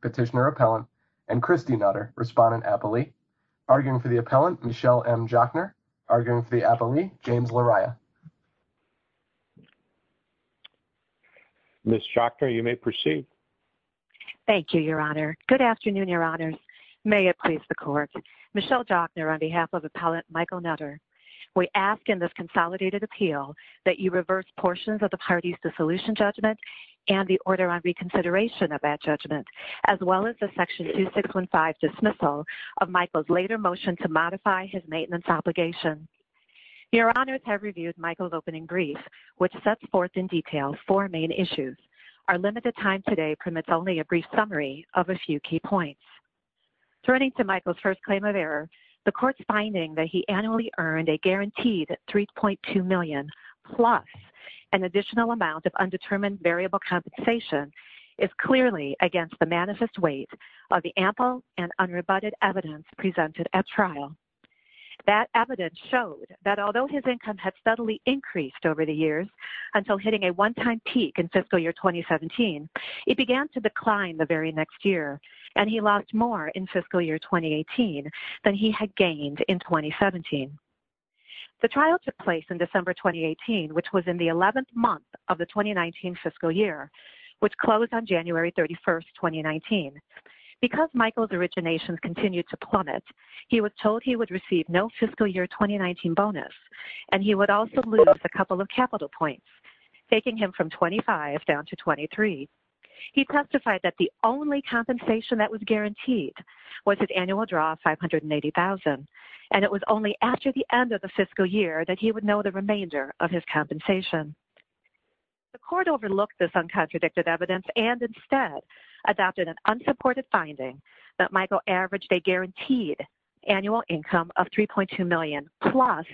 Petitioner Appellant and Christy Nutter Respondent Appellee. Arguing for the Appellant, Michelle M. Jochner. Arguing for the Appellee, James Lariah. Thank you. Thank you, Mr. Chairman. You may proceed. Thank you, Your Honor. Good afternoon, Your Honors. May it please the Court. Michelle Jochner on behalf of Appellant Michael Nutter. We ask in this consolidated appeal that you reverse portions of the parties' dissolution judgment and the order on reconsideration of that judgment, as well as the Section 2615 dismissal of Michael's later motion to modify his maintenance obligation. Your Honors have reviewed Michael's opening brief, which sets forth in detail four main issues. Our limited time today permits only a brief summary of a few key points. Turning to Michael's first claim of error, the Court's finding that he annually earned a guaranteed $3.2 million plus an additional amount of undetermined variable compensation is clearly against the manifest weight of the ample and unrebutted evidence presented at trial. That evidence showed that although his income had steadily increased over the years until hitting a one-time peak in fiscal year 2017, it began to decline the very next year, and he lost more in fiscal year 2018 than he had gained in 2017. The trial took place in December 2018, which was in the 11th month of the 2019 fiscal year, which closed on January 31, 2019. Because Michael's originations continued to plummet, he was told he would receive no fiscal year 2019 bonus, and he would also lose a couple of capital points, taking him from $25 down to $23. He testified that the only compensation that was guaranteed was his annual draw of $580,000, and it was only after the end of the fiscal year that he would know the remainder of his compensation. The Court overlooked this uncontradicted evidence and instead adopted an unsupported finding that Michael averaged a guaranteed annual income of $3.2 million plus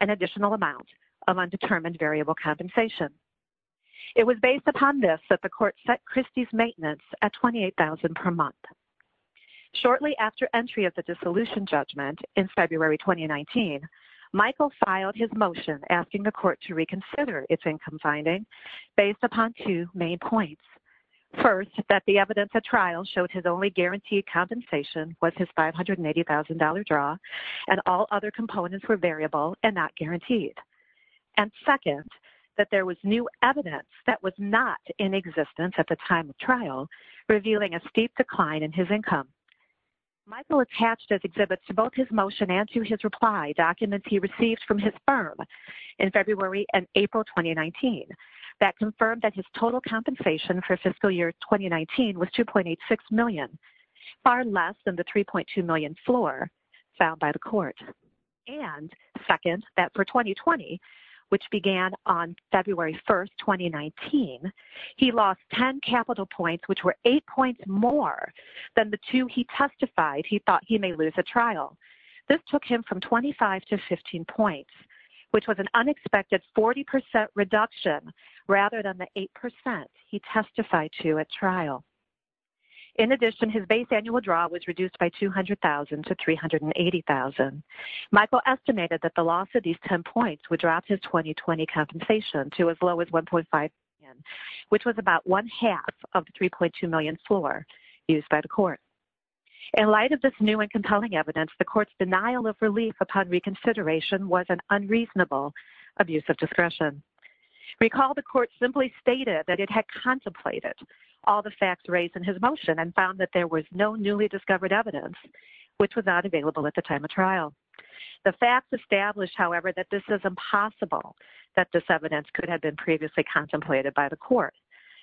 an additional amount of undetermined variable compensation. It was based upon this that the Court set Christie's maintenance at $28,000 per month. Shortly after entry of the dissolution judgment in February 2019, Michael filed his motion asking the Court to reconsider its income finding based upon two main points. First, that the evidence at trial showed his only guaranteed compensation was his $580,000 draw and all other components were variable and not guaranteed. And second, that there was new evidence that was not in existence at the time of trial, revealing a steep decline in his income. Michael attached his exhibits to both his motion and to his reply documents he received from his firm in February and April 2019 that confirmed that his total compensation for fiscal year 2019 was $2.86 million, far less than the $3.2 million floor found by the Court. And second, that for 2020, which began on February 1, 2019, he lost 10 capital points, which were 8 points more than the 2 he testified he thought he may lose at trial. This took him from 25 to 15 points, which was an unexpected 40% reduction rather than the 8% he testified to at trial. In addition, his base annual draw was reduced by $200,000 to $380,000. Michael estimated that the loss of these 10 points would drop his 2020 compensation to as low as $1.5 million, which was about one-half of the $3.2 million floor used by the Court. In light of this new and compelling evidence, the Court's denial of relief upon reconsideration was an unreasonable abuse of discretion. Recall the Court simply stated that it had contemplated all the facts raised in his motion and found that there was no newly discovered evidence, which was not available at the time of trial. The facts established, however, that this is impossible, that this evidence could have been previously contemplated by the Court.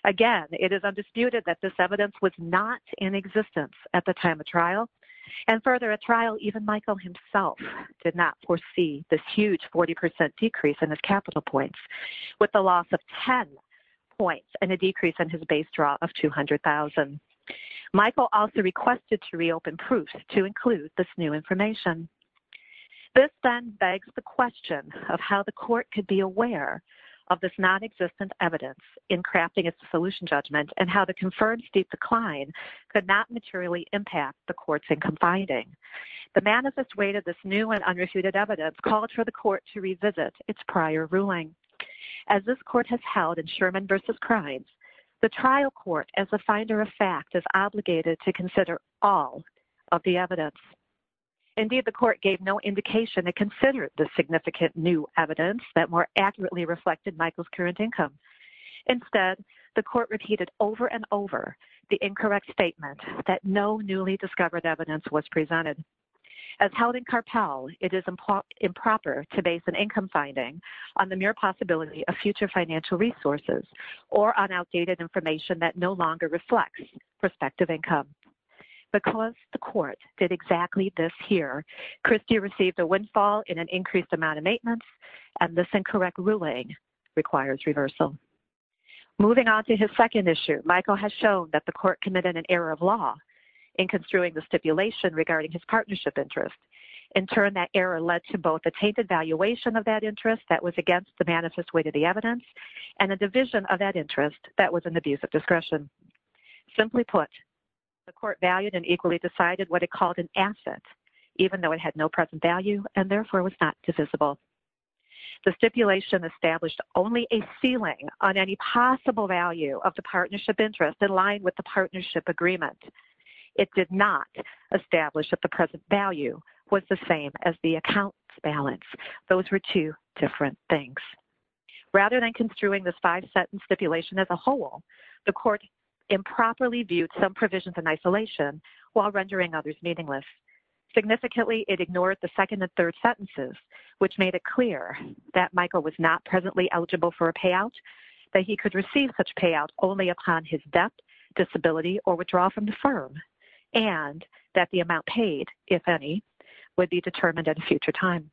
Again, it is undisputed that this evidence was not in existence at the time of trial. And further, at trial, even Michael himself did not foresee this huge 40% decrease in his capital points, with the loss of 10 points and a decrease in his base draw of $200,000. Michael also requested to reopen proofs to include this new information. This then begs the question of how the Court could be aware of this non-existent evidence in crafting its dissolution judgment and how the confirmed steep decline could not materially impact the Court's income finding. The manifest weight of this new and unrefuted evidence called for the Court to revisit its prior ruling. As this Court has held in Sherman v. Crimes, the trial Court, as a finder of fact, is obligated to consider all of the evidence. Indeed, the Court gave no indication it considered the significant new evidence that more accurately reflected Michael's current income. Instead, the Court repeated over and over the incorrect statement that no newly discovered evidence was presented. As held in Carpell, it is improper to base an income finding on the mere possibility of future financial resources or on outdated information that no longer reflects prospective income. Because the Court did exactly this here, Christie received a windfall in an increased amount of maintenance, and this incorrect ruling requires reversal. Moving on to his second issue, Michael has shown that the Court committed an error of law in construing the stipulation regarding his partnership interest. In turn, that error led to both a tainted valuation of that interest that was against the manifest weight of the evidence and a division of that interest that was an abuse of discretion. Simply put, the Court valued and equally decided what it called an asset, even though it had no present value and therefore was not divisible. The stipulation established only a ceiling on any possible value of the partnership interest in line with the partnership agreement. It did not establish that the present value was the same as the account balance. Those were two different things. Rather than construing this five-sentence stipulation as a whole, the Court improperly viewed some provisions in isolation while rendering others meaningless. Significantly, it ignored the second and third sentences, which made it clear that Michael was not presently eligible for a payout, that he could receive such payout only upon his death, disability, or withdrawal from the firm, and that the amount paid, if any, would be determined at a future time.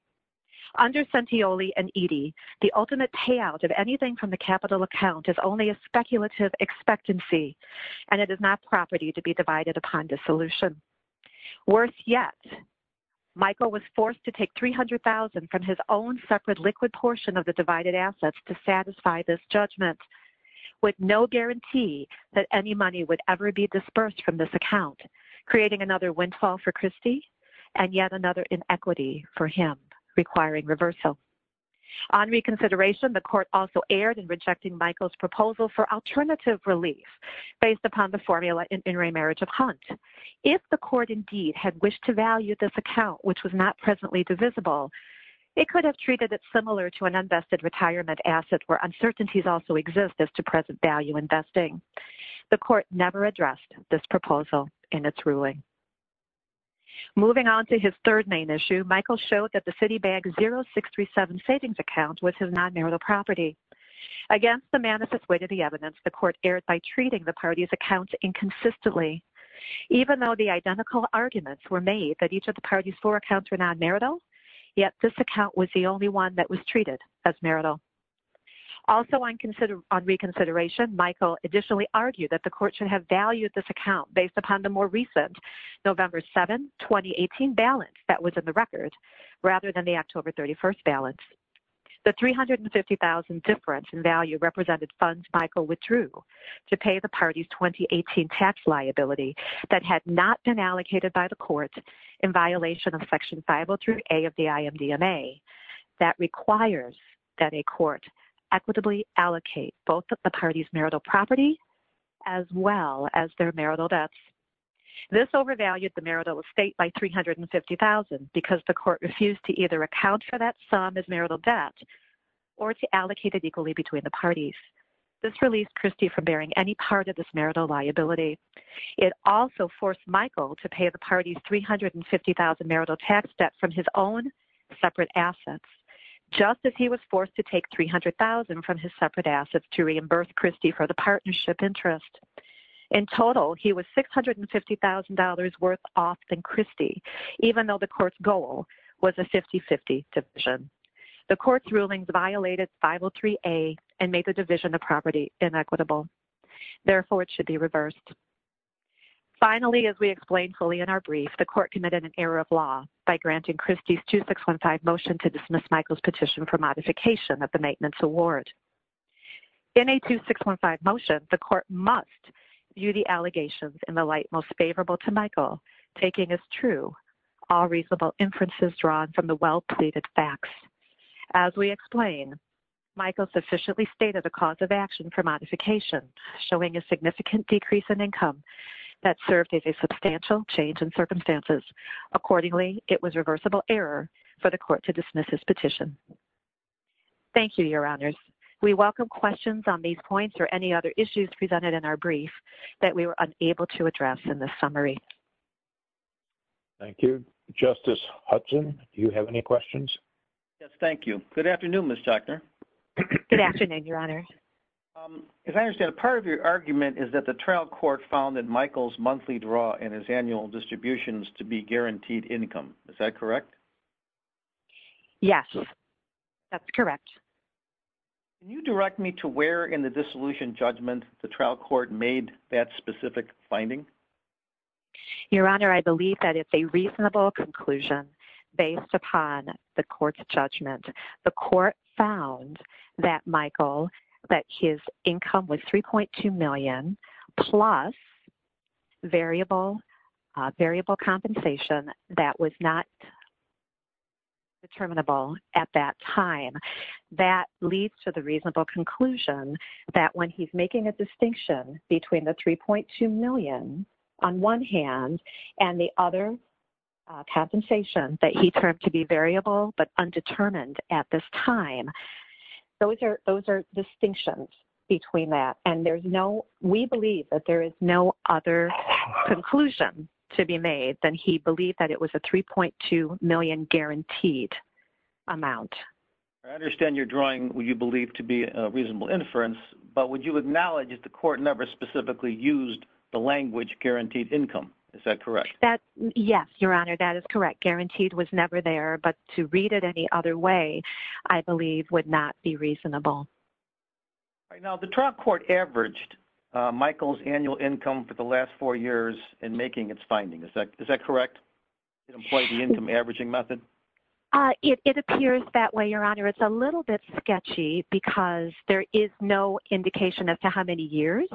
Under Centioli and Eadie, the ultimate payout of anything from the capital account is only a speculative expectancy, and it is not property to be divided upon dissolution. Worse yet, Michael was forced to take $300,000 from his own separate liquid portion of the divided assets to satisfy this judgment, with no guarantee that any money would ever be dispersed from this account, creating another windfall for Christy and yet another inequity for him, requiring reversal. On reconsideration, the Court also erred in rejecting Michael's proposal for alternative relief based upon the formula in intermarriage of Hunt. If the Court indeed had wished to value this account, which was not presently divisible, it could have treated it similar to an unvested retirement asset, where uncertainties also exist as to present value investing. The Court never addressed this proposal in its ruling. Moving on to his third main issue, Michael showed that the Citibag 0637 savings account was his non-marital property. Against the manifest weight of the evidence, the Court erred by treating the parties' accounts inconsistently. Even though the identical arguments were made that each of the parties' four accounts were non-marital, yet this account was the only one that was treated as marital. Also on reconsideration, Michael additionally argued that the Court should have valued this account based upon the more recent November 7, 2018 balance that was in the record, rather than the October 31 balance. The $350,000 difference in value represented funds Michael withdrew to pay the parties' 2018 tax liability that had not been allocated by the Court in violation of Section 503A of the IMDMA that requires that a Court equitably allocate both the parties' marital property as well as their marital debts. This overvalued the marital estate by $350,000 because the Court refused to either account for that sum as marital debt or to allocate it equally between the parties. This released Christie from bearing any part of this marital liability. It also forced Michael to pay the parties' $350,000 marital tax debt from his own separate assets, just as he was forced to take $300,000 from his separate assets to reimburse Christie for the partnership interest. In total, he was $650,000 worth off than Christie, even though the Court's goal was a 50-50 division. The Court's rulings violated 503A and made the division of property inequitable. Therefore, it should be reversed. Finally, as we explained fully in our brief, the Court committed an error of law by granting Christie's 2615 motion to dismiss Michael's petition for modification of the maintenance award. In a 2615 motion, the Court must view the allegations in the light most favorable to Michael, taking as true all reasonable inferences drawn from the well-pleaded facts. As we explained, Michael sufficiently stated the cause of action for modification, showing a significant decrease in income that served as a substantial change in circumstances. Accordingly, it was reversible error for the Court to dismiss his petition. Thank you, Your Honors. We welcome questions on these points or any other issues presented in our brief that we were unable to address in this summary. Thank you. Justice Hudson, do you have any questions? Yes, thank you. Good afternoon, Ms. Tuckner. Good afternoon, Your Honor. As I understand it, part of your argument is that the trial court found that Michael's monthly draw and his annual distributions to be guaranteed income. Is that correct? Yes, that's correct. Can you direct me to where in the dissolution judgment the trial court made that specific finding? Your Honor, I believe that it's a reasonable conclusion based upon the court's judgment. The court found that Michael, that his income was $3.2 million plus variable compensation that was not determinable at that time. That leads to the reasonable conclusion that when he's making a distinction between the $3.2 million on one hand and the other compensation that he termed to be variable but undetermined at this time, those are distinctions between that. And we believe that there is no other conclusion to be made than he believed that it was a $3.2 million guaranteed amount. I understand you're drawing what you believe to be a reasonable inference, but would you acknowledge that the court never specifically used the language guaranteed income? Is that correct? Yes, Your Honor, that is correct. Guaranteed was never there, but to read it any other way, I believe, would not be reasonable. Now, the trial court averaged Michael's annual income for the last four years in making its findings. Is that correct? Did it employ the income averaging method? It appears that way, Your Honor. It's a little bit sketchy because there is no indication as to how many years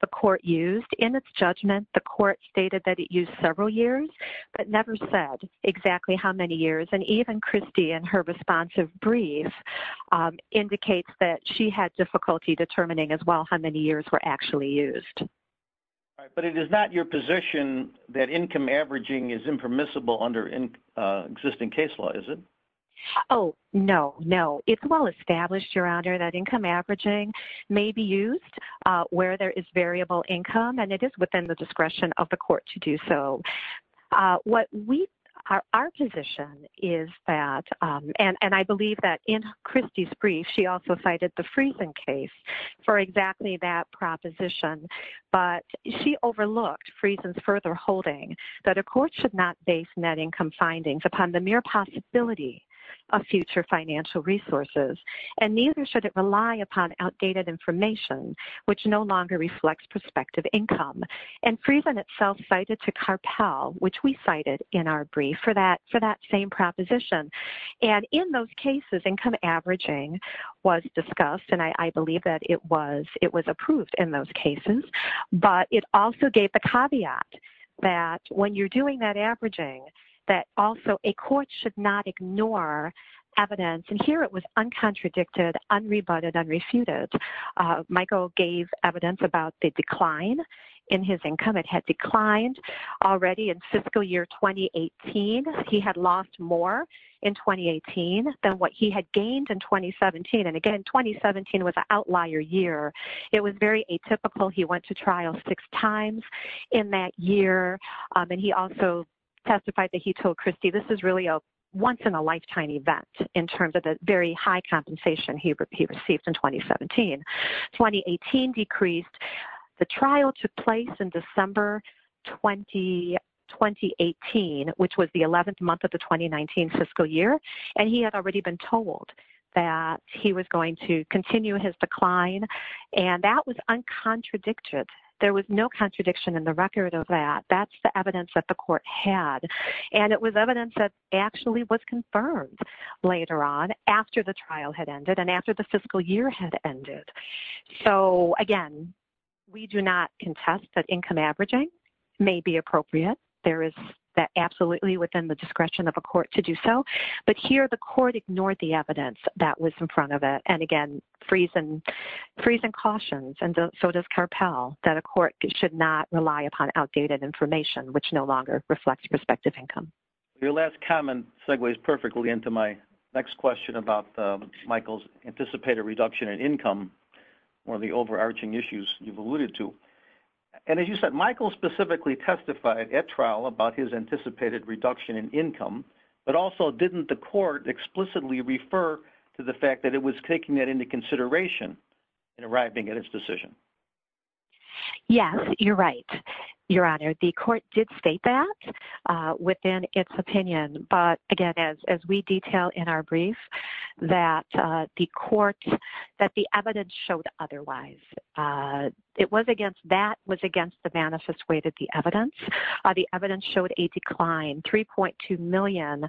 the court used. In its judgment, the court stated that it used several years but never said exactly how many years. And even Christie in her responsive brief indicates that she had difficulty determining as well how many years were actually used. But it is not your position that income averaging is impermissible under existing case law, is it? Oh, no, no. It's well established, Your Honor, that income averaging may be used where there is variable income and it is within the discretion of the court to do so. Our position is that, and I believe that in Christie's brief, she also cited the Friesen case for exactly that proposition, but she overlooked Friesen's further holding that a court should not base net income findings upon the mere possibility of future financial resources, and neither should it rely upon outdated information, which no longer reflects prospective income. And Friesen itself cited to Carpell, which we cited in our brief, for that same proposition. And in those cases, income averaging was discussed, and I believe that it was approved in those cases, but it also gave the caveat that when you're doing that averaging, that also a court should not ignore evidence. And here it was uncontradicted, unrebutted, unrefuted. Michael gave evidence about the decline in his income. It had declined already in fiscal year 2018. He had lost more in 2018 than what he had gained in 2017. And again, 2017 was an outlier year. It was very atypical. He went to trial six times in that year, and he also testified that he told Christie, this is really a once-in-a-lifetime event in terms of the very high compensation he received in 2017. 2018 decreased. The trial took place in December 2018, which was the 11th month of the 2019 fiscal year, and he had already been told that he was going to continue his decline, and that was uncontradicted. There was no contradiction in the record of that. That's the evidence that the court had, and it was evidence that actually was confirmed later on, after the trial had ended and after the fiscal year had ended. So, again, we do not contest that income averaging may be appropriate. There is absolutely within the discretion of a court to do so. But here the court ignored the evidence that was in front of it, and, again, freezing cautions, and so does Carpell, that a court should not rely upon outdated information, which no longer reflects prospective income. Your last comment segues perfectly into my next question about Michael's anticipated reduction in income, one of the overarching issues you've alluded to. And as you said, Michael specifically testified at trial about his anticipated reduction in income, but also didn't the court explicitly refer to the fact that it was taking that into consideration in arriving at its decision? Yes, you're right, Your Honor. The court did state that within its opinion. But, again, as we detail in our brief, that the evidence showed otherwise. That was against the manifest way that the evidence. The evidence showed a decline. $3.2 million,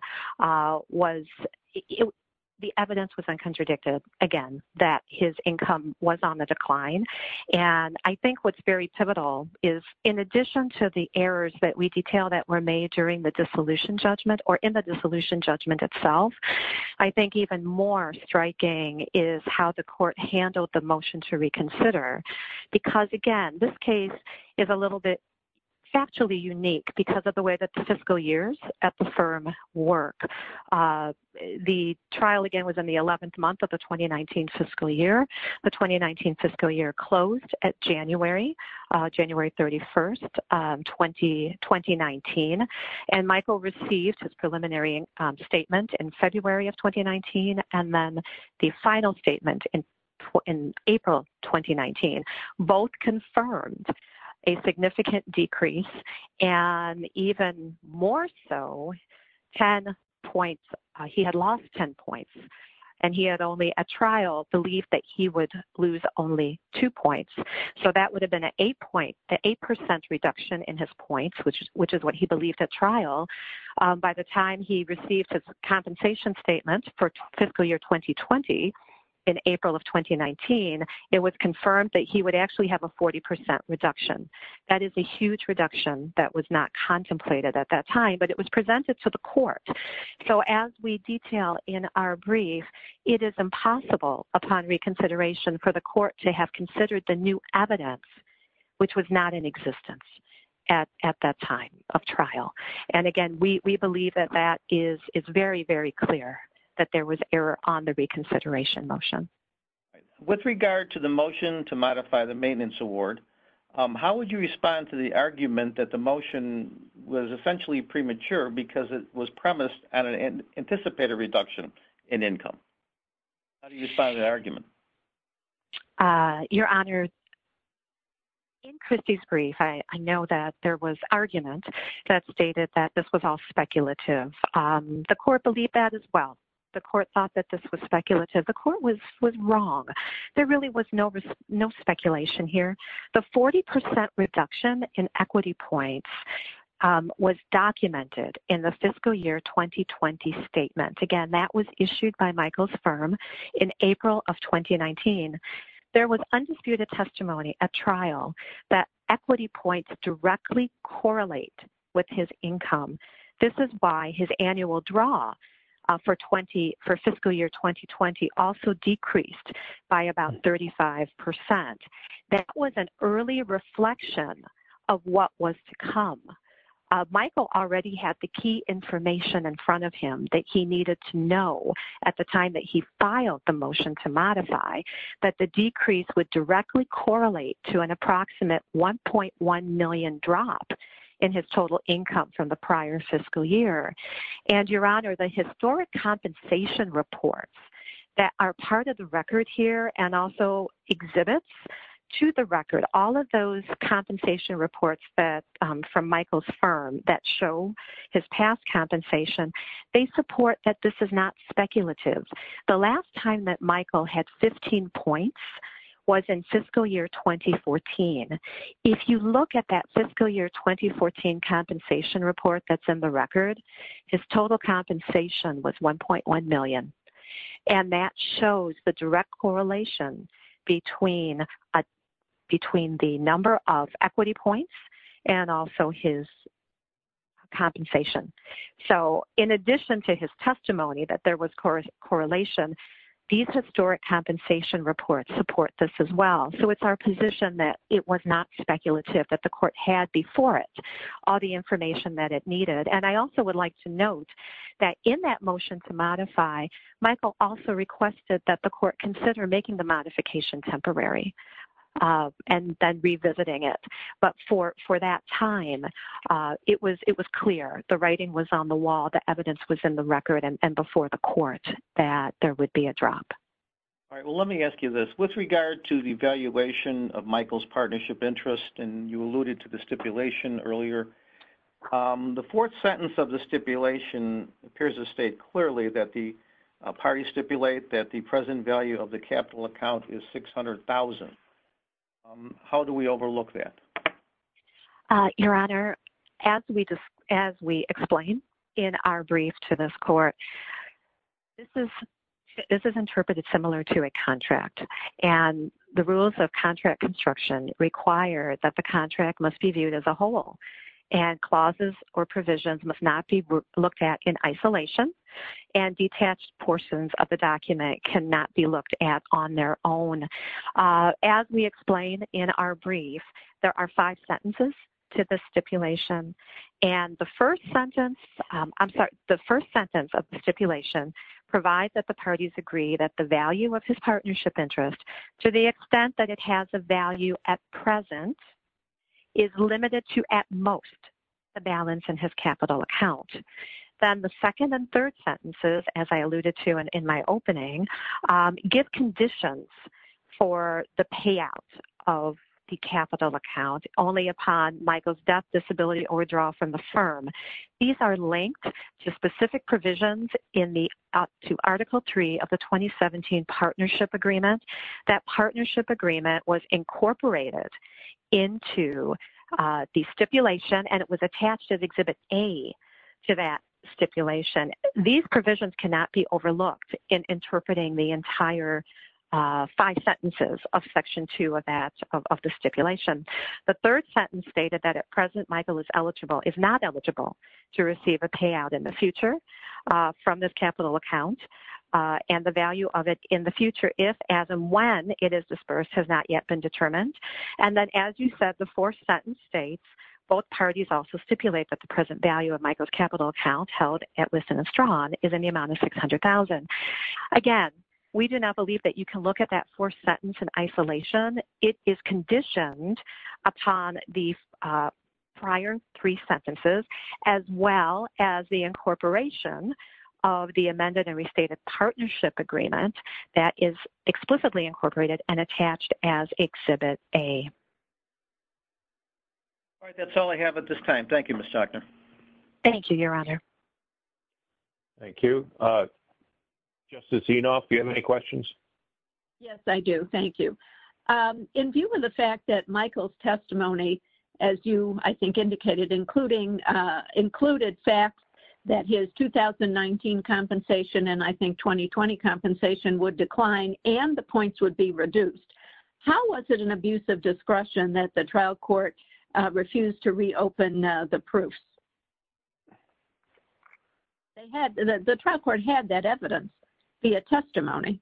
the evidence was uncontradicted, again, that his income was on the decline. And I think what's very pivotal is, in addition to the errors that we detail that were made during the dissolution judgment or in the dissolution judgment itself, I think even more striking is how the court handled the motion to reconsider. Because, again, this case is a little bit factually unique because of the way that the fiscal years at the firm work. The trial, again, was in the 11th month of the 2019 fiscal year. The 2019 fiscal year closed at January, January 31st, 2019. And Michael received his preliminary statement in February of 2019. And then the final statement in April of 2019. Both confirmed a significant decrease and even more so, 10 points. He had lost 10 points. And he had only, at trial, believed that he would lose only two points. So that would have been an 8% reduction in his points, which is what he believed at trial. By the time he received his compensation statement for fiscal year 2020, in April of 2019, it was confirmed that he would actually have a 40% reduction. That is a huge reduction that was not contemplated at that time, but it was presented to the court. So as we detail in our brief, it is impossible upon reconsideration for the court to have considered the new evidence, which was not in existence at that time of trial. And, again, we believe that that is very, very clear, that there was error on the reconsideration motion. With regard to the motion to modify the maintenance award, how would you respond to the argument that the motion was essentially premature because it was premised on an anticipated reduction in income? How do you respond to that argument? Your Honor, in Christy's brief, I know that there was argument that stated that this was all speculative. The court believed that as well. The court thought that this was speculative. The court was wrong. There really was no speculation here. The 40% reduction in equity points was documented in the fiscal year 2020 statement. Again, that was issued by Michael's firm in April of 2019. There was undisputed testimony at trial that equity points directly correlate with his income. This is why his annual draw for fiscal year 2020 also decreased by about 35%. That was an early reflection of what was to come. And, Your Honor, the historic compensation reports that are part of the record here and also exhibits to the record, all of those compensation reports from Michael's firm that show his past compensation, they support that this is not speculative. The last time that Michael had 15 points was in fiscal year 2014. If you look at that fiscal year 2014 compensation report that's in the record, his total compensation was $1.1 million. And that shows the direct correlation between the number of equity points and also his compensation. So, in addition to his testimony that there was correlation, these historic compensation reports support this as well. So, it's our position that it was not speculative, that the court had before it all the information that it needed. And I also would like to note that in that motion to modify, Michael also requested that the court consider making the modification temporary and then revisiting it. But for that time, it was clear. The writing was on the wall. The evidence was in the record and before the court that there would be a drop. All right. Well, let me ask you this. With regard to the valuation of Michael's partnership interest, and you alluded to the stipulation earlier, the fourth sentence of the stipulation appears to state clearly that the parties stipulate that the present value of the capital account is $600,000. How do we overlook that? Your Honor, as we explain in our brief to this court, this is interpreted similar to a contract. And the rules of contract construction require that the contract must be viewed as a whole and clauses or provisions must not be looked at in isolation and detached portions of the document cannot be looked at on their own. As we explain in our brief, there are five sentences to the stipulation. And the first sentence, I'm sorry, the first sentence of the stipulation provides that the parties agree that the value of his partnership interest, to the extent that it has a value at present, is limited to at most the balance in his capital account. Then the second and third sentences, as I alluded to in my opening, give conditions for the payout of the capital account only upon Michael's death, disability, or withdrawal from the firm. These are linked to specific provisions in the Article 3 of the 2017 Partnership Agreement. That Partnership Agreement was incorporated into the stipulation and it was attached as Exhibit A to that stipulation. These provisions cannot be overlooked in interpreting the entire five sentences of Section 2 of that, of the stipulation. The third sentence stated that at present Michael is eligible, is not eligible, to receive a payout in the future from this capital account. And the value of it in the future if, as, and when it is disbursed has not yet been determined. And then as you said, the fourth sentence states, both parties also stipulate that the present value of Michael's capital account held at Liston & Strawn is in the amount of $600,000. Again, we do not believe that you can look at that fourth sentence in isolation. It is conditioned upon the prior three sentences as well as the incorporation of the amended and restated Partnership Agreement that is explicitly incorporated and attached as Exhibit A. All right. That's all I have at this time. Thank you, Ms. Stockner. Thank you, Your Honor. Thank you. Justice Enoff, do you have any questions? Yes, I do. Thank you. In view of the fact that Michael's testimony, as you, I think, indicated, included facts that his 2019 compensation and I think 2020 compensation would decline and the points would be reduced, how was it an abuse of discretion that the trial court refused to reopen the proofs? The trial court had that evidence via testimony.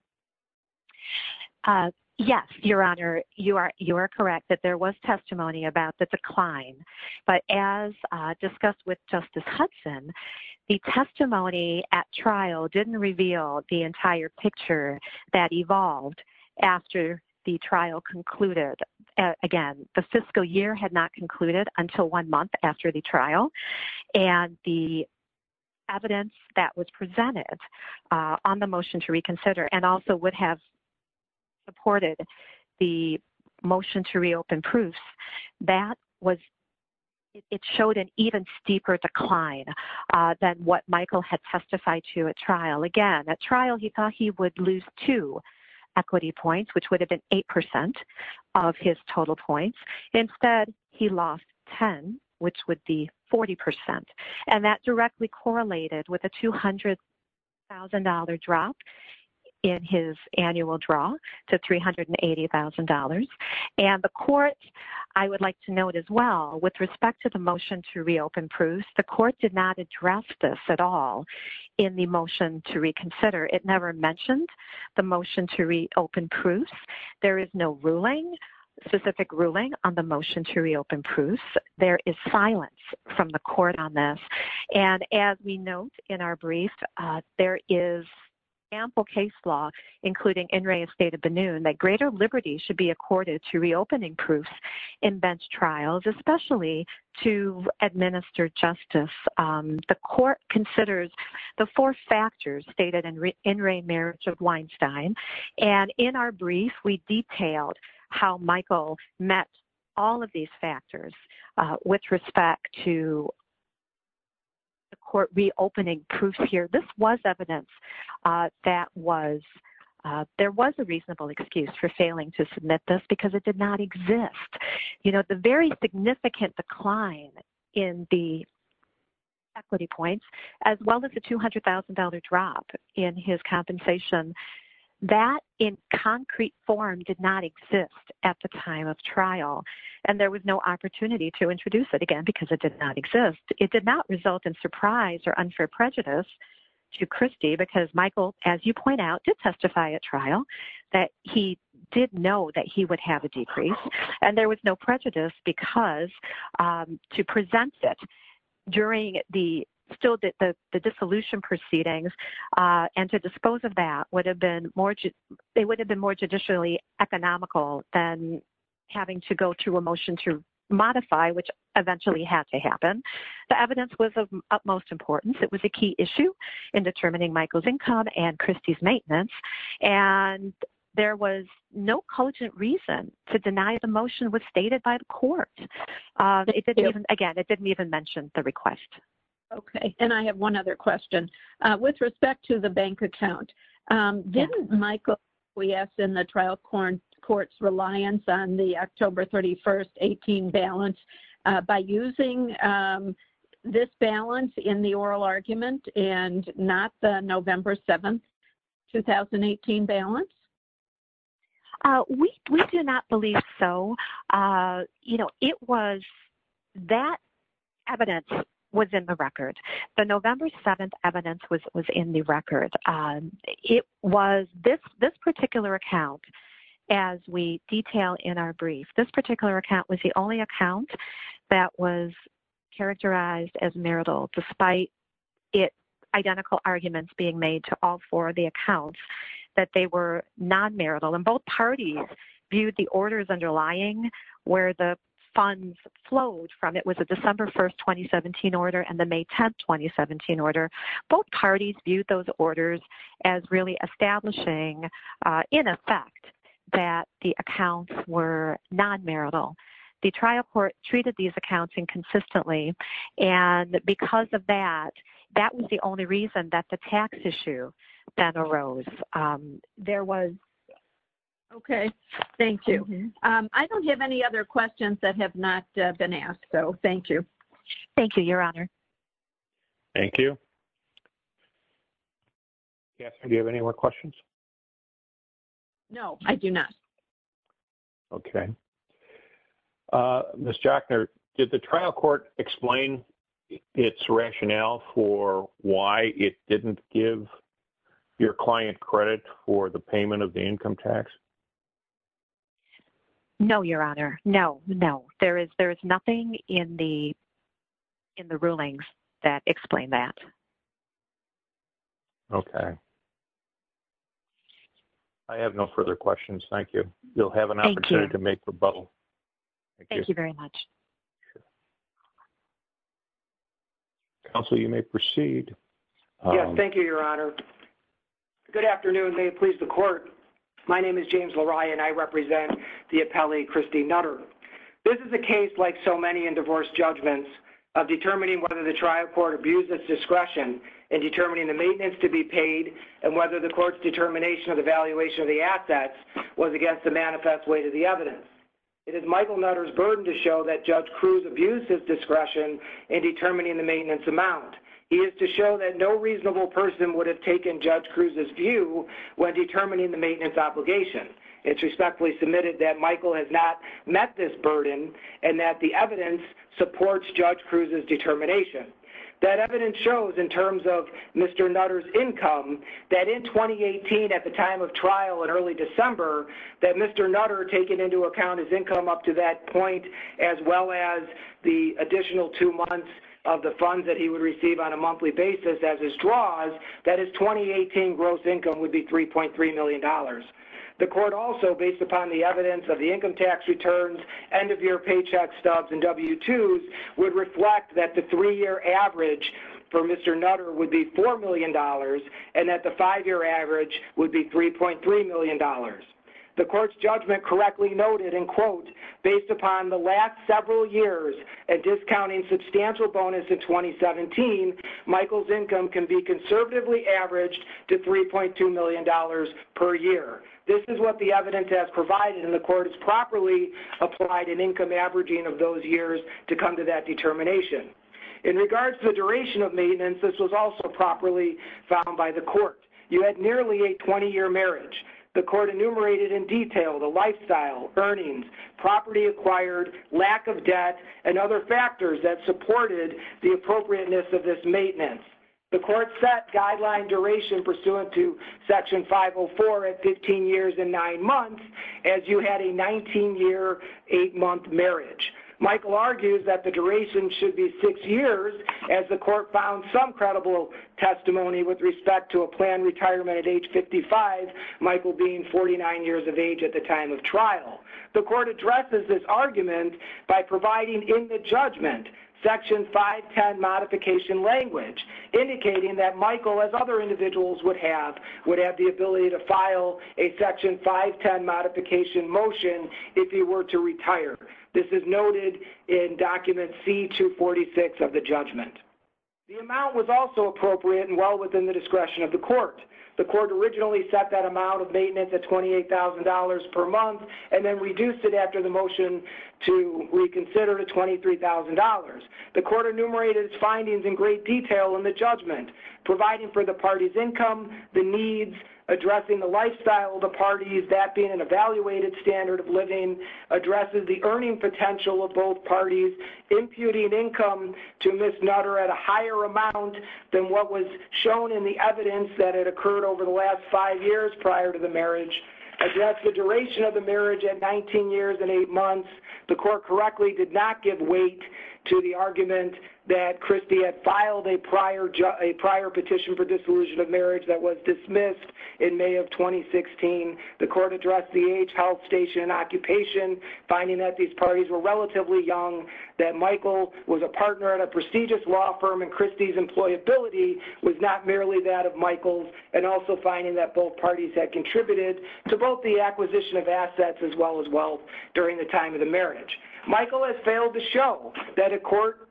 Yes, Your Honor, you are correct that there was testimony about the decline. But as discussed with Justice Hudson, the testimony at trial didn't reveal the entire picture that evolved after the trial concluded. Again, the fiscal year had not concluded until one month after the trial. And the evidence that was presented on the motion to reconsider and also would have supported the motion to reopen proofs, it showed an even steeper decline than what Michael had testified to at trial. Again, at trial, he thought he would lose two equity points, which would have been 8% of his total points. Instead, he lost 10, which would be 40%. And that directly correlated with a $200,000 drop in his annual draw to $380,000. And the court, I would like to note as well, with respect to the motion to reopen proofs, the court did not address this at all in the motion to reconsider. It never mentioned the motion to reopen proofs. There is no ruling, specific ruling on the motion to reopen proofs. There is silence from the court on this. And as we note in our brief, there is ample case law, including INRAE and State of Benin, that greater liberty should be accorded to reopening proofs in bench trials, especially to administer justice. The court considers the four factors stated in INRAE Marriage of Weinstein. And in our brief, we detailed how Michael met all of these factors with respect to the court reopening proofs here. This was evidence that there was a reasonable excuse for failing to submit this because it did not exist. You know, the very significant decline in the equity points, as well as the $200,000 drop in his compensation, that in concrete form did not exist at the time of trial. And there was no opportunity to introduce it again because it did not exist. It did not result in surprise or unfair prejudice to Christy because Michael, as you point out, did testify at trial that he did know that he would have a decrease. And there was no prejudice because to present it during the dissolution proceedings and to dispose of that, it would have been more judicially economical than having to go through a motion to modify, which eventually had to happen. The evidence was of utmost importance. It was a key issue in determining Michael's income and Christy's maintenance. And there was no cogent reason to deny the motion was stated by the court. Again, it didn't even mention the request. Okay. And I have one other question. With respect to the bank account, didn't Michael, we asked in the trial court's reliance on the October 31st, 18 balance by using this balance in the oral argument and not the November 7th, 2018 balance? We do not believe so. You know, it was that evidence was in the record. The November 7th evidence was in the record. It was this particular account as we detail in our brief. This particular account was the only account that was characterized as marital despite identical arguments being made to all four of the accounts that they were non-marital. And both parties viewed the orders underlying where the funds flowed from. It was a December 1st, 2017 order and the May 10th, 2017 order. Both parties viewed those orders as really establishing in effect that the accounts were non-marital. The trial court treated these accounts inconsistently. And because of that, that was the only reason that the tax issue then arose. There was. Okay. Thank you. I don't have any other questions that have not been asked. So, thank you. Thank you, Your Honor. Thank you. Do you have any more questions? No, I do not. Okay. Ms. Jochner, did the trial court explain its rationale for why it didn't give your client credit for the payment of the income tax? No, Your Honor. No, no. There is nothing in the rulings that explain that. Okay. I have no further questions. Thank you. Ms. Jochner, you'll have an opportunity to make rebuttal. Thank you very much. Counsel, you may proceed. Yes. Thank you, Your Honor. Good afternoon. May it please the Court. My name is James LaRae and I represent the appellee, Christine Nutter. This is a case like so many in divorce judgments of determining whether the trial court abused its discretion in determining the maintenance to be paid and whether the court's determination of the valuation of the assets was against the manifest weight of the evidence. It is Michael Nutter's burden to show that Judge Cruz abused his discretion in determining the maintenance amount. He is to show that no reasonable person would have taken Judge Cruz's view when determining the maintenance obligation. It's respectfully submitted that Michael has not met this burden and that the evidence supports Judge Cruz's determination. That evidence shows, in terms of Mr. Nutter's income, that in 2018 at the time of trial in early December, that Mr. Nutter, taking into account his income up to that point, as well as the additional two months of the funds that he would receive on a monthly basis as his draws, that his 2018 gross income would be $3.3 million. The court also, based upon the evidence of the income tax returns, end-of-year paycheck stubs, and W-2s, would reflect that the three-year average for Mr. Nutter would be $4 million and that the five-year average would be $3.3 million. The court's judgment correctly noted, and quote, based upon the last several years and discounting substantial bonus in 2017, Michael's income can be conservatively averaged to $3.2 million per year. This is what the evidence has provided, and the court has properly applied an income averaging of those years to come to that determination. In regards to the duration of maintenance, this was also properly found by the court. You had nearly a 20-year marriage. The court enumerated in detail the lifestyle, earnings, property acquired, lack of debt, and other factors that supported the appropriateness of this maintenance. The court set guideline duration pursuant to Section 504 at 15 years and 9 months as you had a 19-year, 8-month marriage. Michael argues that the duration should be 6 years, as the court found some credible testimony with respect to a planned retirement at age 55, Michael being 49 years of age at the time of trial. The court addresses this argument by providing in the judgment Section 510 modification language, indicating that Michael, as other individuals would have, would have the ability to file a Section 510 modification motion if he were to retire. This is noted in Document C-246 of the judgment. The amount was also appropriate and well within the discretion of the court. The court originally set that amount of maintenance at $28,000 per month and then reduced it after the motion to reconsider to $23,000. The court enumerated its findings in great detail in the judgment, providing for the party's income, the needs, addressing the lifestyle of the parties, that being an evaluated standard of living, addresses the earning potential of both parties, imputing income to Ms. Nutter at a higher amount than what was shown in the evidence that had occurred over the last 5 years prior to the marriage, addressed the duration of the marriage at 19 years and 8 months. The court correctly did not give weight to the argument that Christy had filed a prior petition for dissolution of marriage that was dismissed in May of 2016. The court addressed the age, health station, and occupation, finding that these parties were relatively young, that Michael was a partner at a prestigious law firm, and Christy's employability was not merely that of Michael's, and also finding that both parties had contributed to both the acquisition of assets as well as wealth during the time of the marriage. Michael has failed to show that the court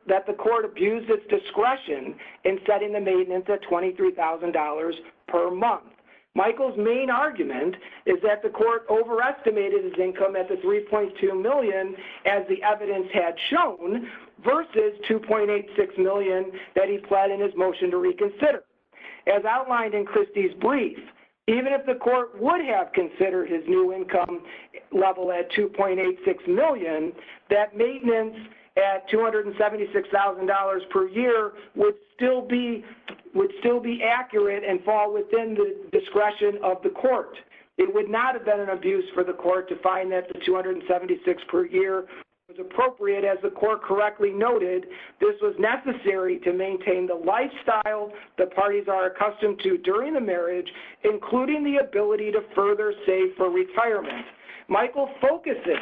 abused its discretion in setting the maintenance at $23,000 per month. Michael's main argument is that the court overestimated his income at the $3.2 million as the evidence had shown versus $2.86 million that he pled in his motion to reconsider. As outlined in Christy's brief, even if the court would have considered his new income level at $2.86 million, that maintenance at $276,000 per year would still be accurate and fall within the discretion of the court. It would not have been an abuse for the court to find that the $276,000 per year was appropriate. As the court correctly noted, this was necessary to maintain the lifestyle the parties are accustomed to during the marriage, including the ability to further save for retirement. Michael focuses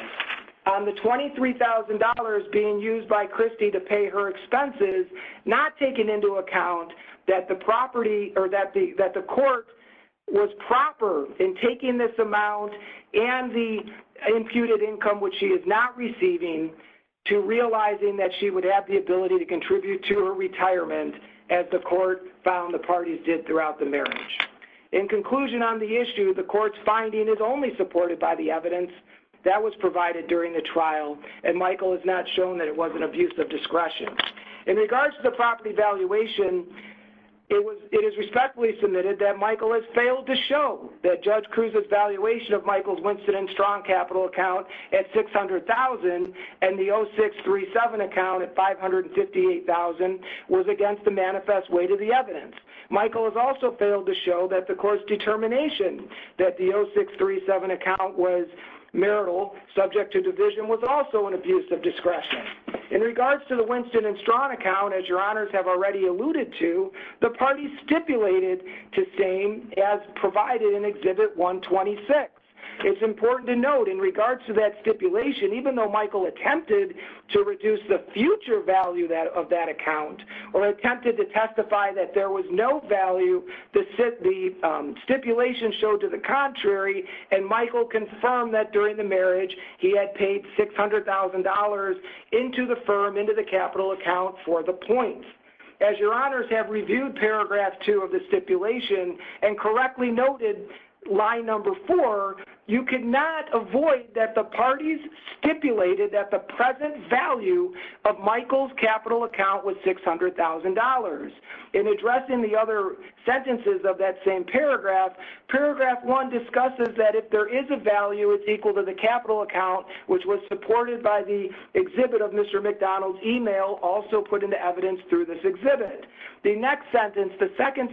on the $23,000 being used by Christy to pay her expenses, not taking into account that the court was proper in taking this amount and the imputed income, which she is not receiving, to realizing that she would have the ability to contribute to her retirement as the court found the parties did throughout the marriage. In conclusion on the issue, the court's finding is only supported by the evidence that was provided during the trial, and Michael has not shown that it was an abuse of discretion. In regards to the property valuation, it is respectfully submitted that Michael has failed to show that Judge Cruz's valuation of Michael's Winston and Strong capital account at $600,000 and the 0637 account at $558,000 was against the manifest weight of the evidence. Michael has also failed to show that the court's determination that the 0637 account was marital, subject to division, was also an abuse of discretion. In regards to the Winston and Strong account, as your honors have already alluded to, the parties stipulated to same as provided in Exhibit 126. It's important to note in regards to that stipulation, even though Michael attempted to reduce the future value of that account or attempted to testify that there was no value, the stipulation showed to the contrary, and Michael confirmed that during the marriage he had paid $600,000 into the firm, into the capital account for the points. As your honors have reviewed Paragraph 2 of the stipulation and correctly noted line number 4, you cannot avoid that the parties stipulated that the present value of Michael's capital account was $600,000. In addressing the other sentences of that same paragraph, Paragraph 1 discusses that if there is a value, it's equal to the capital account, which was supported by the exhibit of Mr. McDonald's email also put into evidence through this exhibit. The next sentence, the second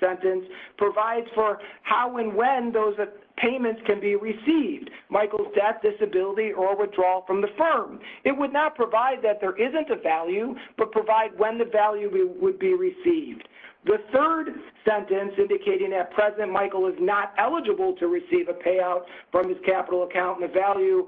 sentence, provides for how and when those payments can be received, Michael's death, disability, or withdrawal from the firm. It would not provide that there isn't a value, but provide when the value would be received. The third sentence indicating that President Michael is not eligible to receive a payout from his capital account and the value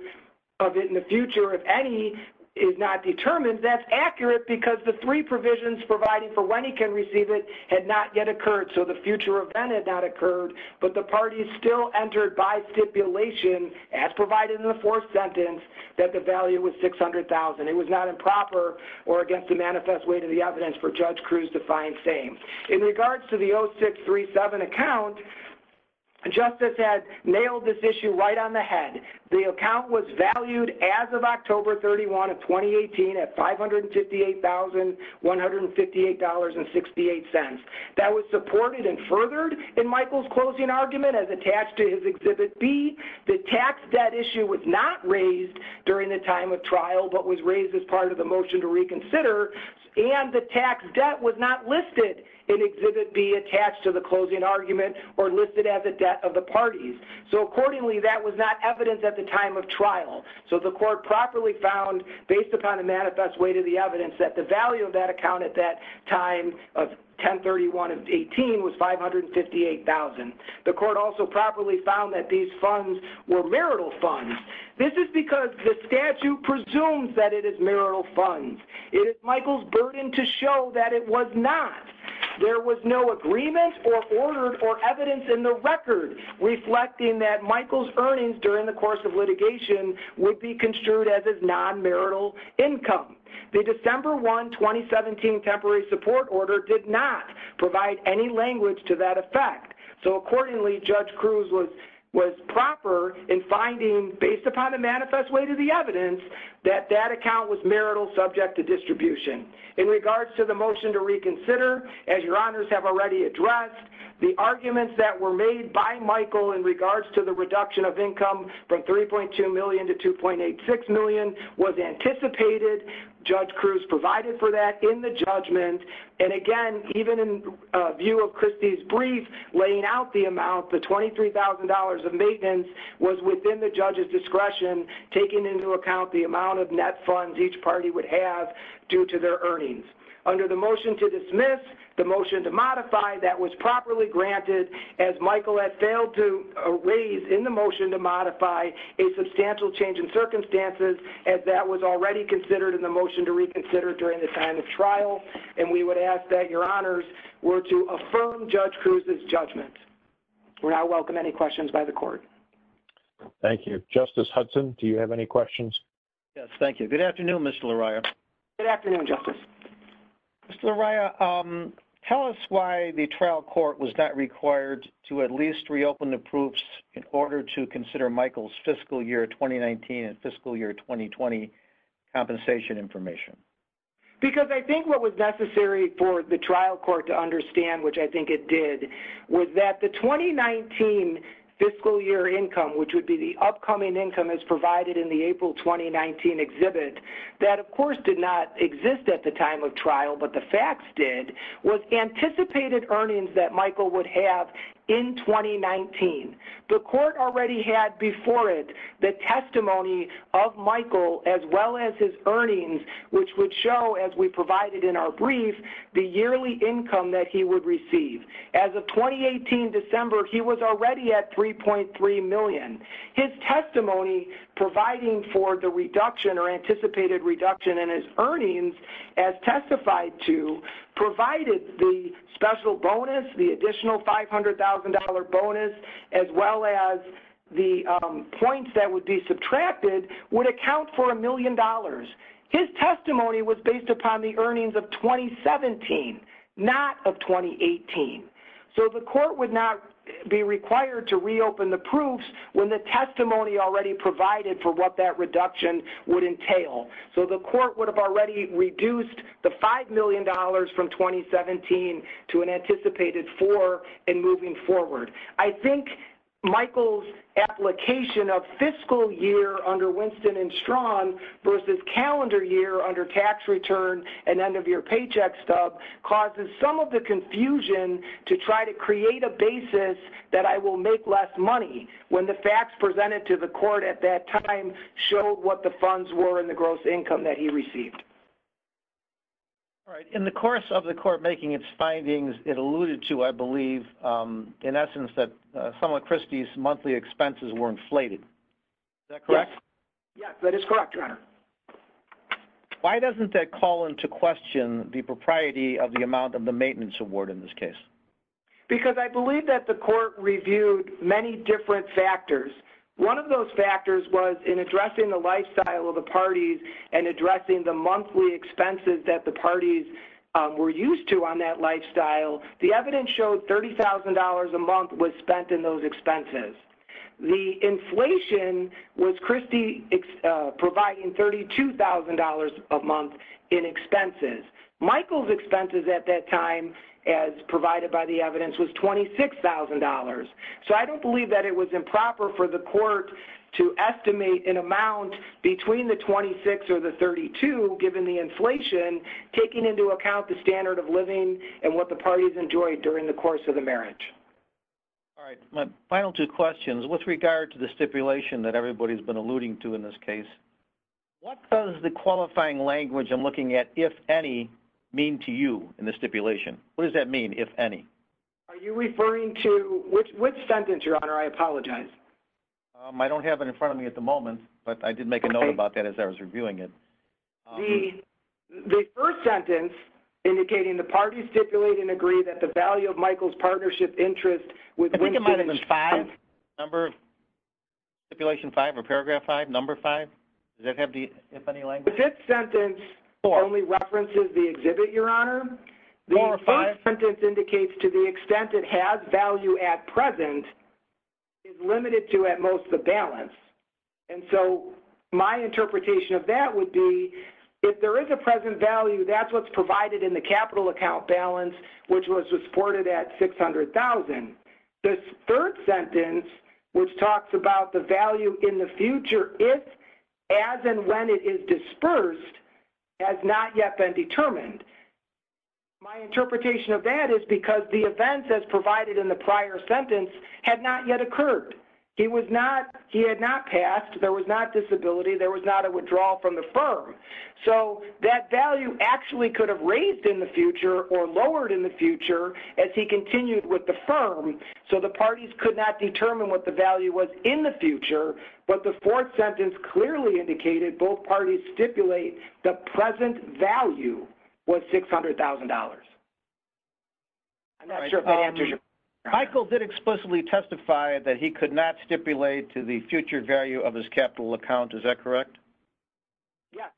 of it in the future, if any, is not determined, that's accurate because the three provisions providing for when he can receive it had not yet occurred, so the future event had not occurred, but the parties still entered by stipulation, as provided in the fourth sentence, that the value was $600,000. It was not improper or against the manifest way to the evidence for Judge Cruz to find same. In regards to the 0637 account, Justice has nailed this issue right on the head. The account was valued as of October 31 of 2018 at $558,158.68. That was supported and furthered in Michael's closing argument as attached to his exhibit B. The tax debt issue was not raised during the time of trial, but was raised as part of the motion to reconsider, and the tax debt was not listed in exhibit B attached to the closing argument or listed as a debt of the parties. So accordingly, that was not evidence at the time of trial. So the court properly found, based upon the manifest way to the evidence, that the value of that account at that time of 10-31-18 was $558,000. The court also properly found that these funds were marital funds. This is because the statute presumes that it is marital funds. It is Michael's burden to show that it was not. There was no agreement or order or evidence in the record reflecting that Michael's earnings during the course of litigation would be construed as his non-marital income. The December 1, 2017 temporary support order did not provide any language to that effect. So accordingly, Judge Cruz was proper in finding, based upon the manifest way to the evidence, that that account was marital subject to distribution. In regards to the motion to reconsider, as your honors have already addressed, the arguments that were made by Michael in regards to the reduction of income from $3.2 million to $2.86 million was anticipated. Judge Cruz provided for that in the judgment. And again, even in view of Christie's brief laying out the amount, the $23,000 of maintenance was within the judge's discretion, taking into account the amount of net funds each party would have due to their earnings. Under the motion to dismiss, the motion to modify, that was properly granted as Michael had failed to raise in the motion to modify a substantial change in circumstances as that was already considered in the motion to reconsider during the time of trial. And we would ask that your honors were to affirm Judge Cruz's judgment. We now welcome any questions by the court. Thank you. Justice Hudson, do you have any questions? Yes, thank you. Good afternoon, Mr. Loria. Good afternoon, Justice. Mr. Loria, tell us why the trial court was not required to at least reopen the proofs in order to consider Michael's fiscal year 2019 and fiscal year 2020 compensation information. Because I think what was necessary for the trial court to understand, which I think it did, was that the 2019 fiscal year income, which would be the upcoming income as provided in the April 2019 exhibit, that of course did not exist at the time of trial, but the facts did, was anticipated earnings that Michael would have in 2019. The court already had before it the testimony of Michael as well as his earnings, which would show, as we provided in our brief, the yearly income that he would receive. As of 2018 December, he was already at $3.3 million. His testimony providing for the reduction or anticipated reduction in his earnings, as testified to, provided the special bonus, the additional $500,000 bonus, as well as the points that would be subtracted would account for $1 million. His testimony was based upon the earnings of 2017, not of 2018. So the court would not be required to reopen the proofs when the testimony already provided for what that reduction would entail. So the court would have already reduced the $5 million from 2017 to an anticipated 4 and moving forward. I think Michael's application of fiscal year under Winston and Strawn versus calendar year under tax return and end-of-year paycheck stub causes some of the confusion to try to create a basis that I will make less money when the facts presented to the court at that time showed what the funds were and the gross income that he received. All right. In the course of the court making its findings, it alluded to, I believe, in essence, that Selma Christie's monthly expenses were inflated. Is that correct? Yes, that is correct, Your Honor. Why doesn't that call into question the propriety of the amount of the maintenance award in this case? Because I believe that the court reviewed many different factors. One of those factors was in addressing the lifestyle of the parties and addressing the monthly expenses that the parties were used to on that lifestyle. The evidence showed $30,000 a month was spent in those expenses. The inflation was Christie providing $32,000 a month in expenses. Michael's expenses at that time, as provided by the evidence, was $26,000. So I don't believe that it was improper for the court to estimate an amount between the $26,000 or the $32,000, given the inflation, taking into account the standard of living and what the parties enjoyed during the course of the marriage. All right. My final two questions. With regard to the stipulation that everybody has been alluding to in this case, what does the qualifying language I'm looking at, if any, mean to you in the stipulation? What does that mean, if any? Are you referring to which sentence, Your Honor? I apologize. I don't have it in front of me at the moment, but I did make a note about that as I was reviewing it. The first sentence indicating the parties stipulate and agree that the value of Michael's partnership interest with women is five. Number? Stipulation five or paragraph five? Number five? Does that have the, if any, language? The fifth sentence only references the exhibit, Your Honor. Number five? The fifth sentence indicates to the extent it has value at present is limited to at most the balance. And so my interpretation of that would be if there is a present value, that's what's provided in the capital account balance, which was reported at $600,000. The third sentence, which talks about the value in the future, if, as, and when it is dispersed, has not yet been determined. My interpretation of that is because the events, as provided in the prior sentence, had not yet occurred. He was not, he had not passed, there was not disability, there was not a withdrawal from the firm. So that value actually could have raised in the future or lowered in the future as he continued with the firm, so the parties could not determine what the value was in the future. But the fourth sentence clearly indicated both parties stipulate the present value was $600,000. I'm not sure if that answers your question. Michael did explicitly testify that he could not stipulate to the future value of his capital account. Is that correct? Yes.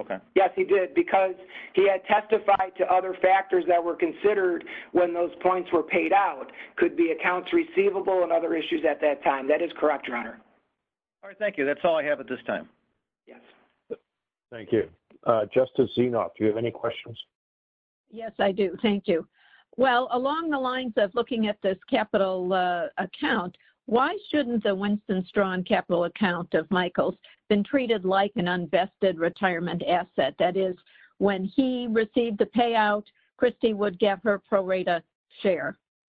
Okay. Yes, he did because he had testified to other factors that were considered when those points were paid out, could be accounts receivable and other issues at that time. That is correct, Your Honor. All right, thank you. That's all I have at this time. Yes. Thank you. Justice Zenoff, do you have any questions? Yes, I do. Thank you. Well, along the lines of looking at this capital account, why shouldn't the Winston Strong capital account of Michael's been treated like an unvested retirement asset? That is, when he received the payout, Christy would get her prorated share.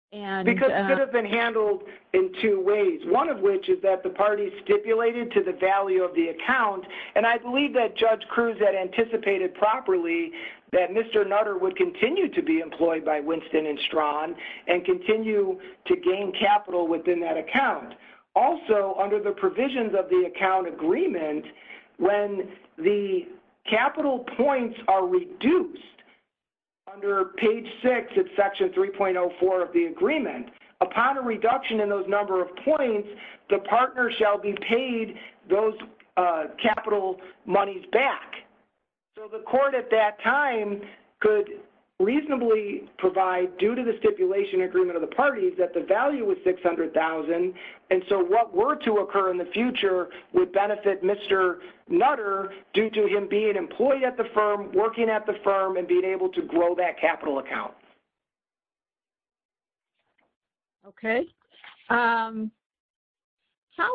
Because it could have been handled in two ways, one of which is that the parties stipulated to the value of the account. And I believe that Judge Cruz had anticipated properly that Mr. Nutter would continue to be employed by Winston and Strong and continue to gain capital within that account. Also, under the provisions of the account agreement, when the capital points are reduced under page six of section 3.04 of the agreement, upon a reduction in those number of points, the partner shall be paid those capital monies back. So the court at that time could reasonably provide, due to the stipulation agreement of the parties, that the value was $600,000. And so what were to occur in the future would benefit Mr. Nutter due to him being employed at the firm, working at the firm, and being able to grow that capital account. Okay. How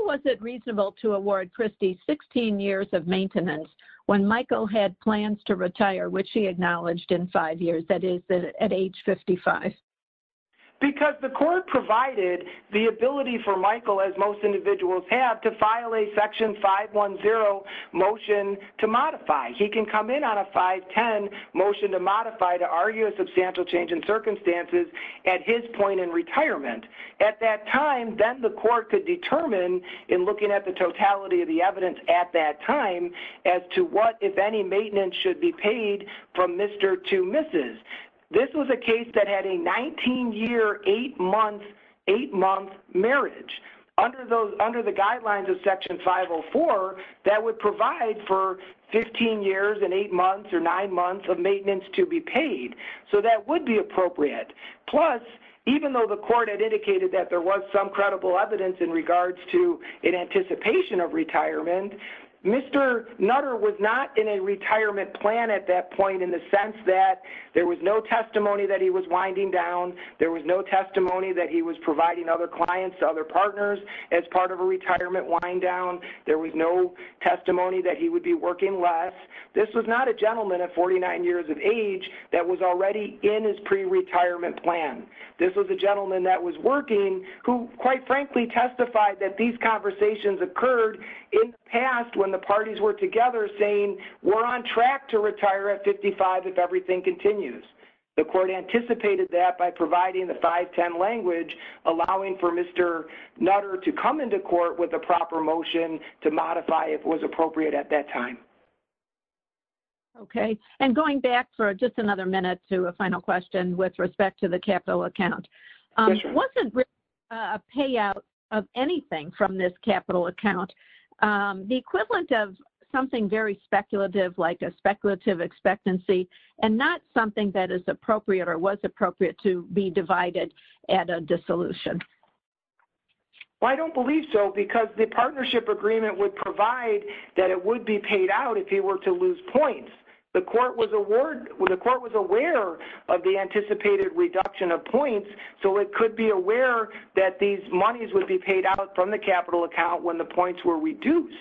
was it reasonable to award Christy 16 years of maintenance when Michael had plans to retire, which he acknowledged in five years, that is, at age 55? Because the court provided the ability for Michael, as most individuals have, he can come in on a 5-10 motion to modify to argue a substantial change in circumstances at his point in retirement. At that time, then the court could determine, in looking at the totality of the evidence at that time, as to what, if any, maintenance should be paid from Mr. to Mrs. This was a case that had a 19-year, 8-month marriage. Under the guidelines of Section 504, that would provide for 15 years and 8 months or 9 months of maintenance to be paid. So that would be appropriate. Plus, even though the court had indicated that there was some credible evidence in regards to an anticipation of retirement, Mr. Nutter was not in a retirement plan at that point, in the sense that there was no testimony that he was winding down, there was no testimony that he was providing other clients to other partners as part of a retirement wind down, there was no testimony that he would be working less. This was not a gentleman at 49 years of age that was already in his pre-retirement plan. This was a gentleman that was working who, quite frankly, testified that these conversations occurred in the past when the parties were together saying, we're on track to retire at 55 if everything continues. The court anticipated that by providing the 510 language, allowing for Mr. Nutter to come into court with a proper motion to modify if it was appropriate at that time. Okay. And going back for just another minute to a final question with respect to the capital account, it wasn't really a payout of anything from this capital account. The equivalent of something very speculative, like a speculative expectancy and not something that is appropriate or was appropriate to be divided at a dissolution. Well, I don't believe so because the partnership agreement would provide that it would be paid out if he were to lose points. The court was aware of the anticipated reduction of points, so it could be aware that these monies would be paid out from the capital account when the points were reduced.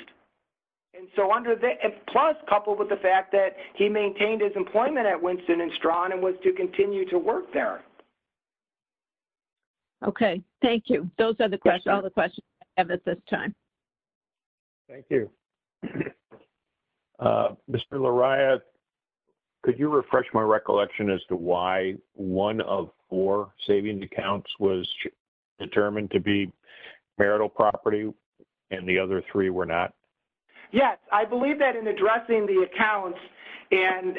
Plus coupled with the fact that he maintained his employment at Winston and Strawn and was to continue to work there. Okay. Thank you. Those are all the questions I have at this time. Thank you. Mr. Lariat, could you refresh my recollection as to why one of four savings accounts was determined to be marital property and the other three were not? Yes. I believe that in addressing the accounts, and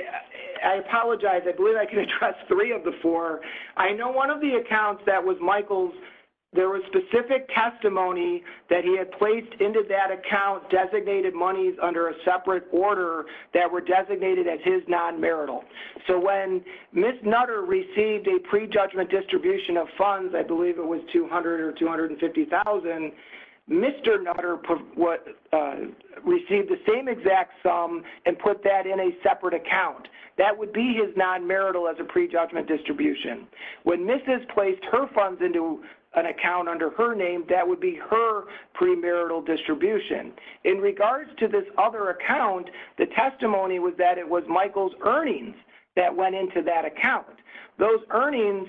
I apologize, I believe I can address three of the four. I know one of the accounts that was Michael's, there was specific testimony that he had placed into that account designated monies under a separate order that were designated as his non-marital. So when Ms. Nutter received a prejudgment distribution of funds, I believe it was $200,000 or $250,000, Mr. Nutter received the same exact sum and put that in a separate account. That would be his non-marital as a prejudgment distribution. When Ms. placed her funds into an account under her name, that would be her premarital distribution. In regards to this other account, the testimony was that it was Michael's earnings that went into that account. Those earnings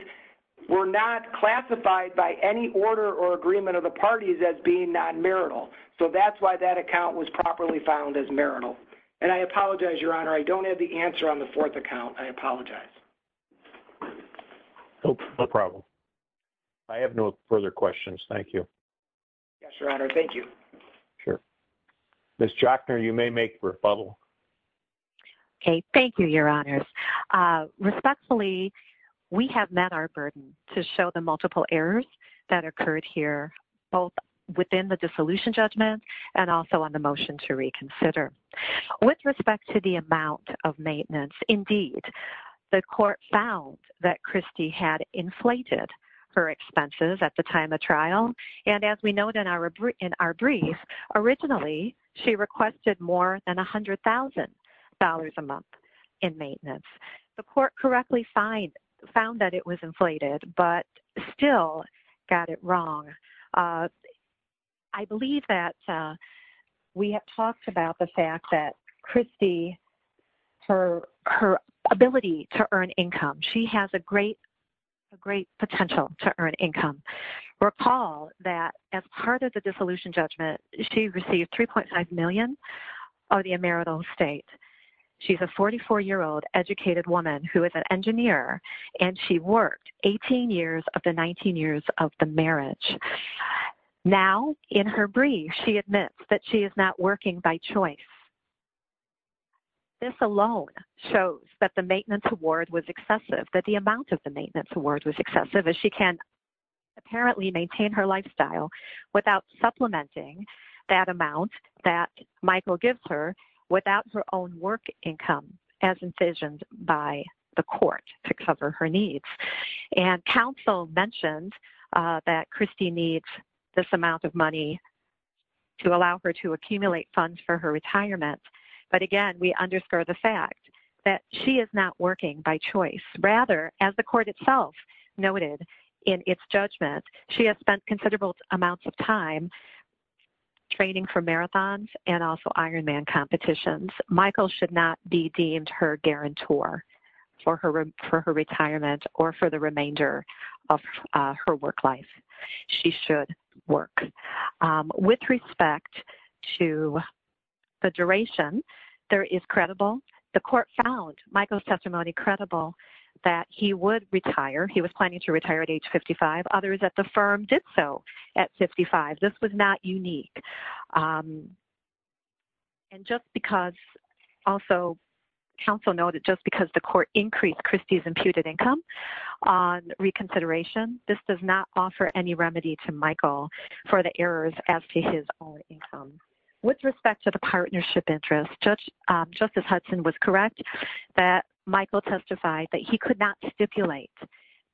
were not classified by any order or agreement of the parties as being non-marital. So that's why that account was properly found as marital. And I apologize, Your Honor, I don't have the answer on the fourth account. I apologize. No problem. I have no further questions. Thank you. Yes, Your Honor. Thank you. Sure. Ms. Jockner, you may make rebuttal. Okay. Thank you, Your Honor. Respectfully, we have met our burden to show the multiple errors that occurred here, both within the dissolution judgment and also on the motion to reconsider. With respect to the amount of maintenance, indeed, the court found that Christy had inflated her expenses at the time of trial. And as we know in our brief, originally she requested more than $100,000 a month in maintenance. The court correctly found that it was inflated, but still got it wrong. I believe that we have talked about the fact that Christy, her ability to earn income, she has a great, a great potential to earn income. Recall that as part of the dissolution judgment, she received $3.5 million of the emeritus estate. She's a 44-year-old educated woman who is an engineer, and she worked 18 years of the 19 years of the marriage. Now, in her brief, she admits that she is not working by choice. This alone shows that the maintenance award was excessive, that the amount of the maintenance award was excessive, as she can apparently maintain her lifestyle without supplementing that amount that Michael gives her without her own work income, as envisioned by the court to cover her needs. And counsel mentioned that Christy needs this amount of money to allow her to accumulate funds for her retirement. But again, we underscore the fact that she is not working by choice. Rather, as the court itself noted in its judgment, she has spent considerable amounts of time training for marathons and also Ironman competitions. Michael should not be deemed her guarantor for her retirement or for the remainder of her work life. She should work. With respect to the duration, there is credible. The court found Michael's testimony credible that he would retire. He was planning to retire at age 55. Others at the firm did so at 55. This was not unique. And just because also counsel noted, just because the court increased Christy's imputed income on reconsideration, this does not offer any remedy to Michael for the errors as to his own income. With respect to the partnership interest, just as Hudson was correct, that Michael testified that he could not stipulate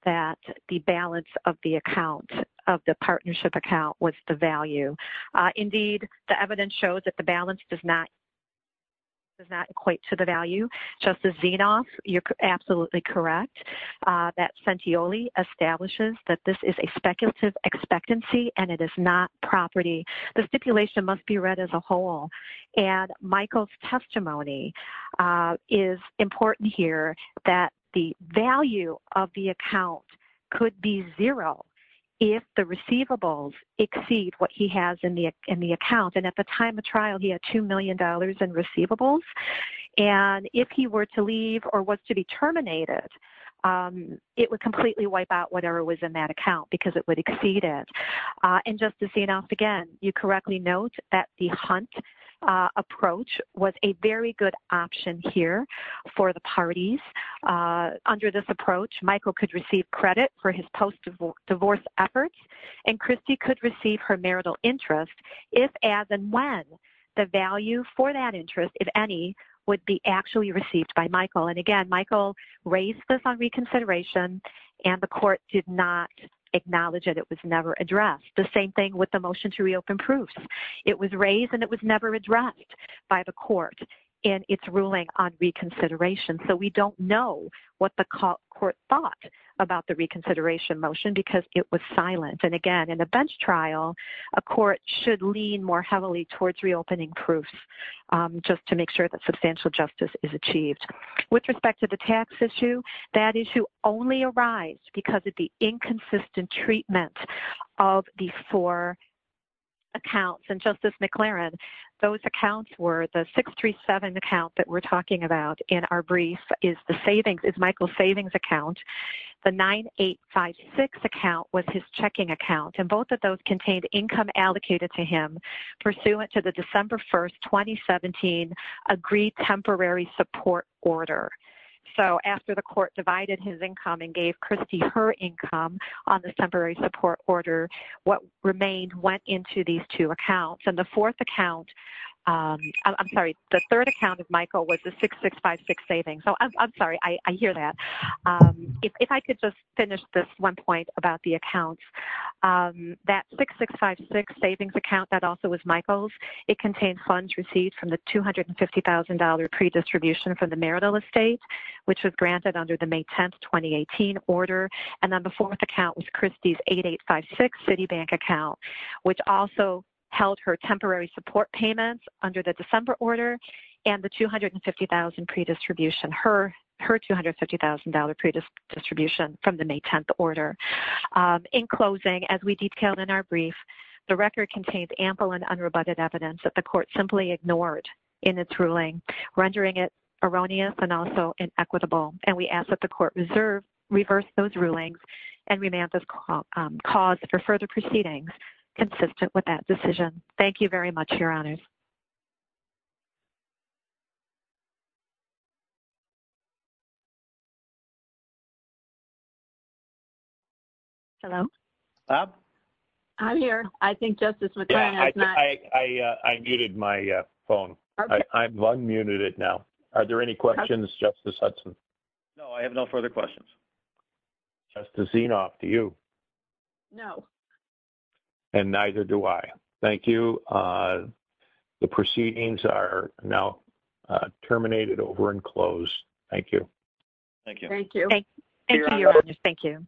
that the balance of the account of the partnership account was the value. Indeed, the evidence shows that the balance does not does not equate to the value justice. You're absolutely correct. That senti only establishes that this is a speculative expectancy and it is not property. The stipulation must be read as a whole. And Michael's testimony is important here that the value of the account could be zero. If the receivables exceed what he has in the, in the account. And at the time of trial, he had $2 million in receivables. And if he were to leave or what's to be terminated, it would completely wipe out whatever was in that account because it would exceed it. And just to see enough, again, you correctly note that the hunt approach was a very good option here for the parties. Under this approach, Michael could receive credit for his post divorce efforts. And Christy could receive her marital interest if, as, and when the value for that interest, if any would be actually received by Michael. And again, Michael raised this on reconsideration and the court did not acknowledge it. It was never addressed the same thing with the motion to reopen proofs. It was raised and it was never addressed by the court and it's ruling on reconsideration. So we don't know what the court thought about the reconsideration motion because it was silent. And again, in a bench trial, a court should lean more heavily towards reopening proofs just to make sure that substantial justice is achieved with respect to the tax issue. That issue only arrives because of the inconsistent treatment of the four accounts. And justice McLaren, those accounts were the six, three, seven account that we're talking about in our brief is the savings is Michael savings account. The nine, eight, five, six account was his checking account. And both of those contained income allocated to him pursuant to the December 1st, 2017 agreed temporary support order. So after the court divided his income and gave Christie her income on the temporary support order, what remained went into these two accounts and the fourth account, I'm sorry, the third account of Michael was the six, six, five, six savings. So I'm sorry, I hear that. If I could just finish this one point about the accounts that six, six, five, six savings account that also was Michael's, it contains funds received from the $250,000 pre-distribution from the marital estate, which was granted under the May 10th, 2018 order. And then the fourth account was Christie's eight, eight, five, six city bank account, which also held her temporary support payments under the December order and the 250,000 pre-distribution her, her $250,000 pre-distribution from the May 10th order. In closing, as we detailed in our brief, the record contains ample and unrebutted evidence that the court simply ignored in its ruling, rendering it erroneous and also inequitable. And we ask that the court reserve reverse those rulings and we may have this cause for further proceedings consistent with that decision. Thank you very much. Your honors. Hello. I'm here. I think justice. I muted my phone. I've unmuted it now. Are there any questions? Justice Hudson? No, I have no further questions. Just to see enough to you. No. And neither do I thank you. The proceedings are now terminated over and closed. Thank you. Thank you. Thank you. Thank you.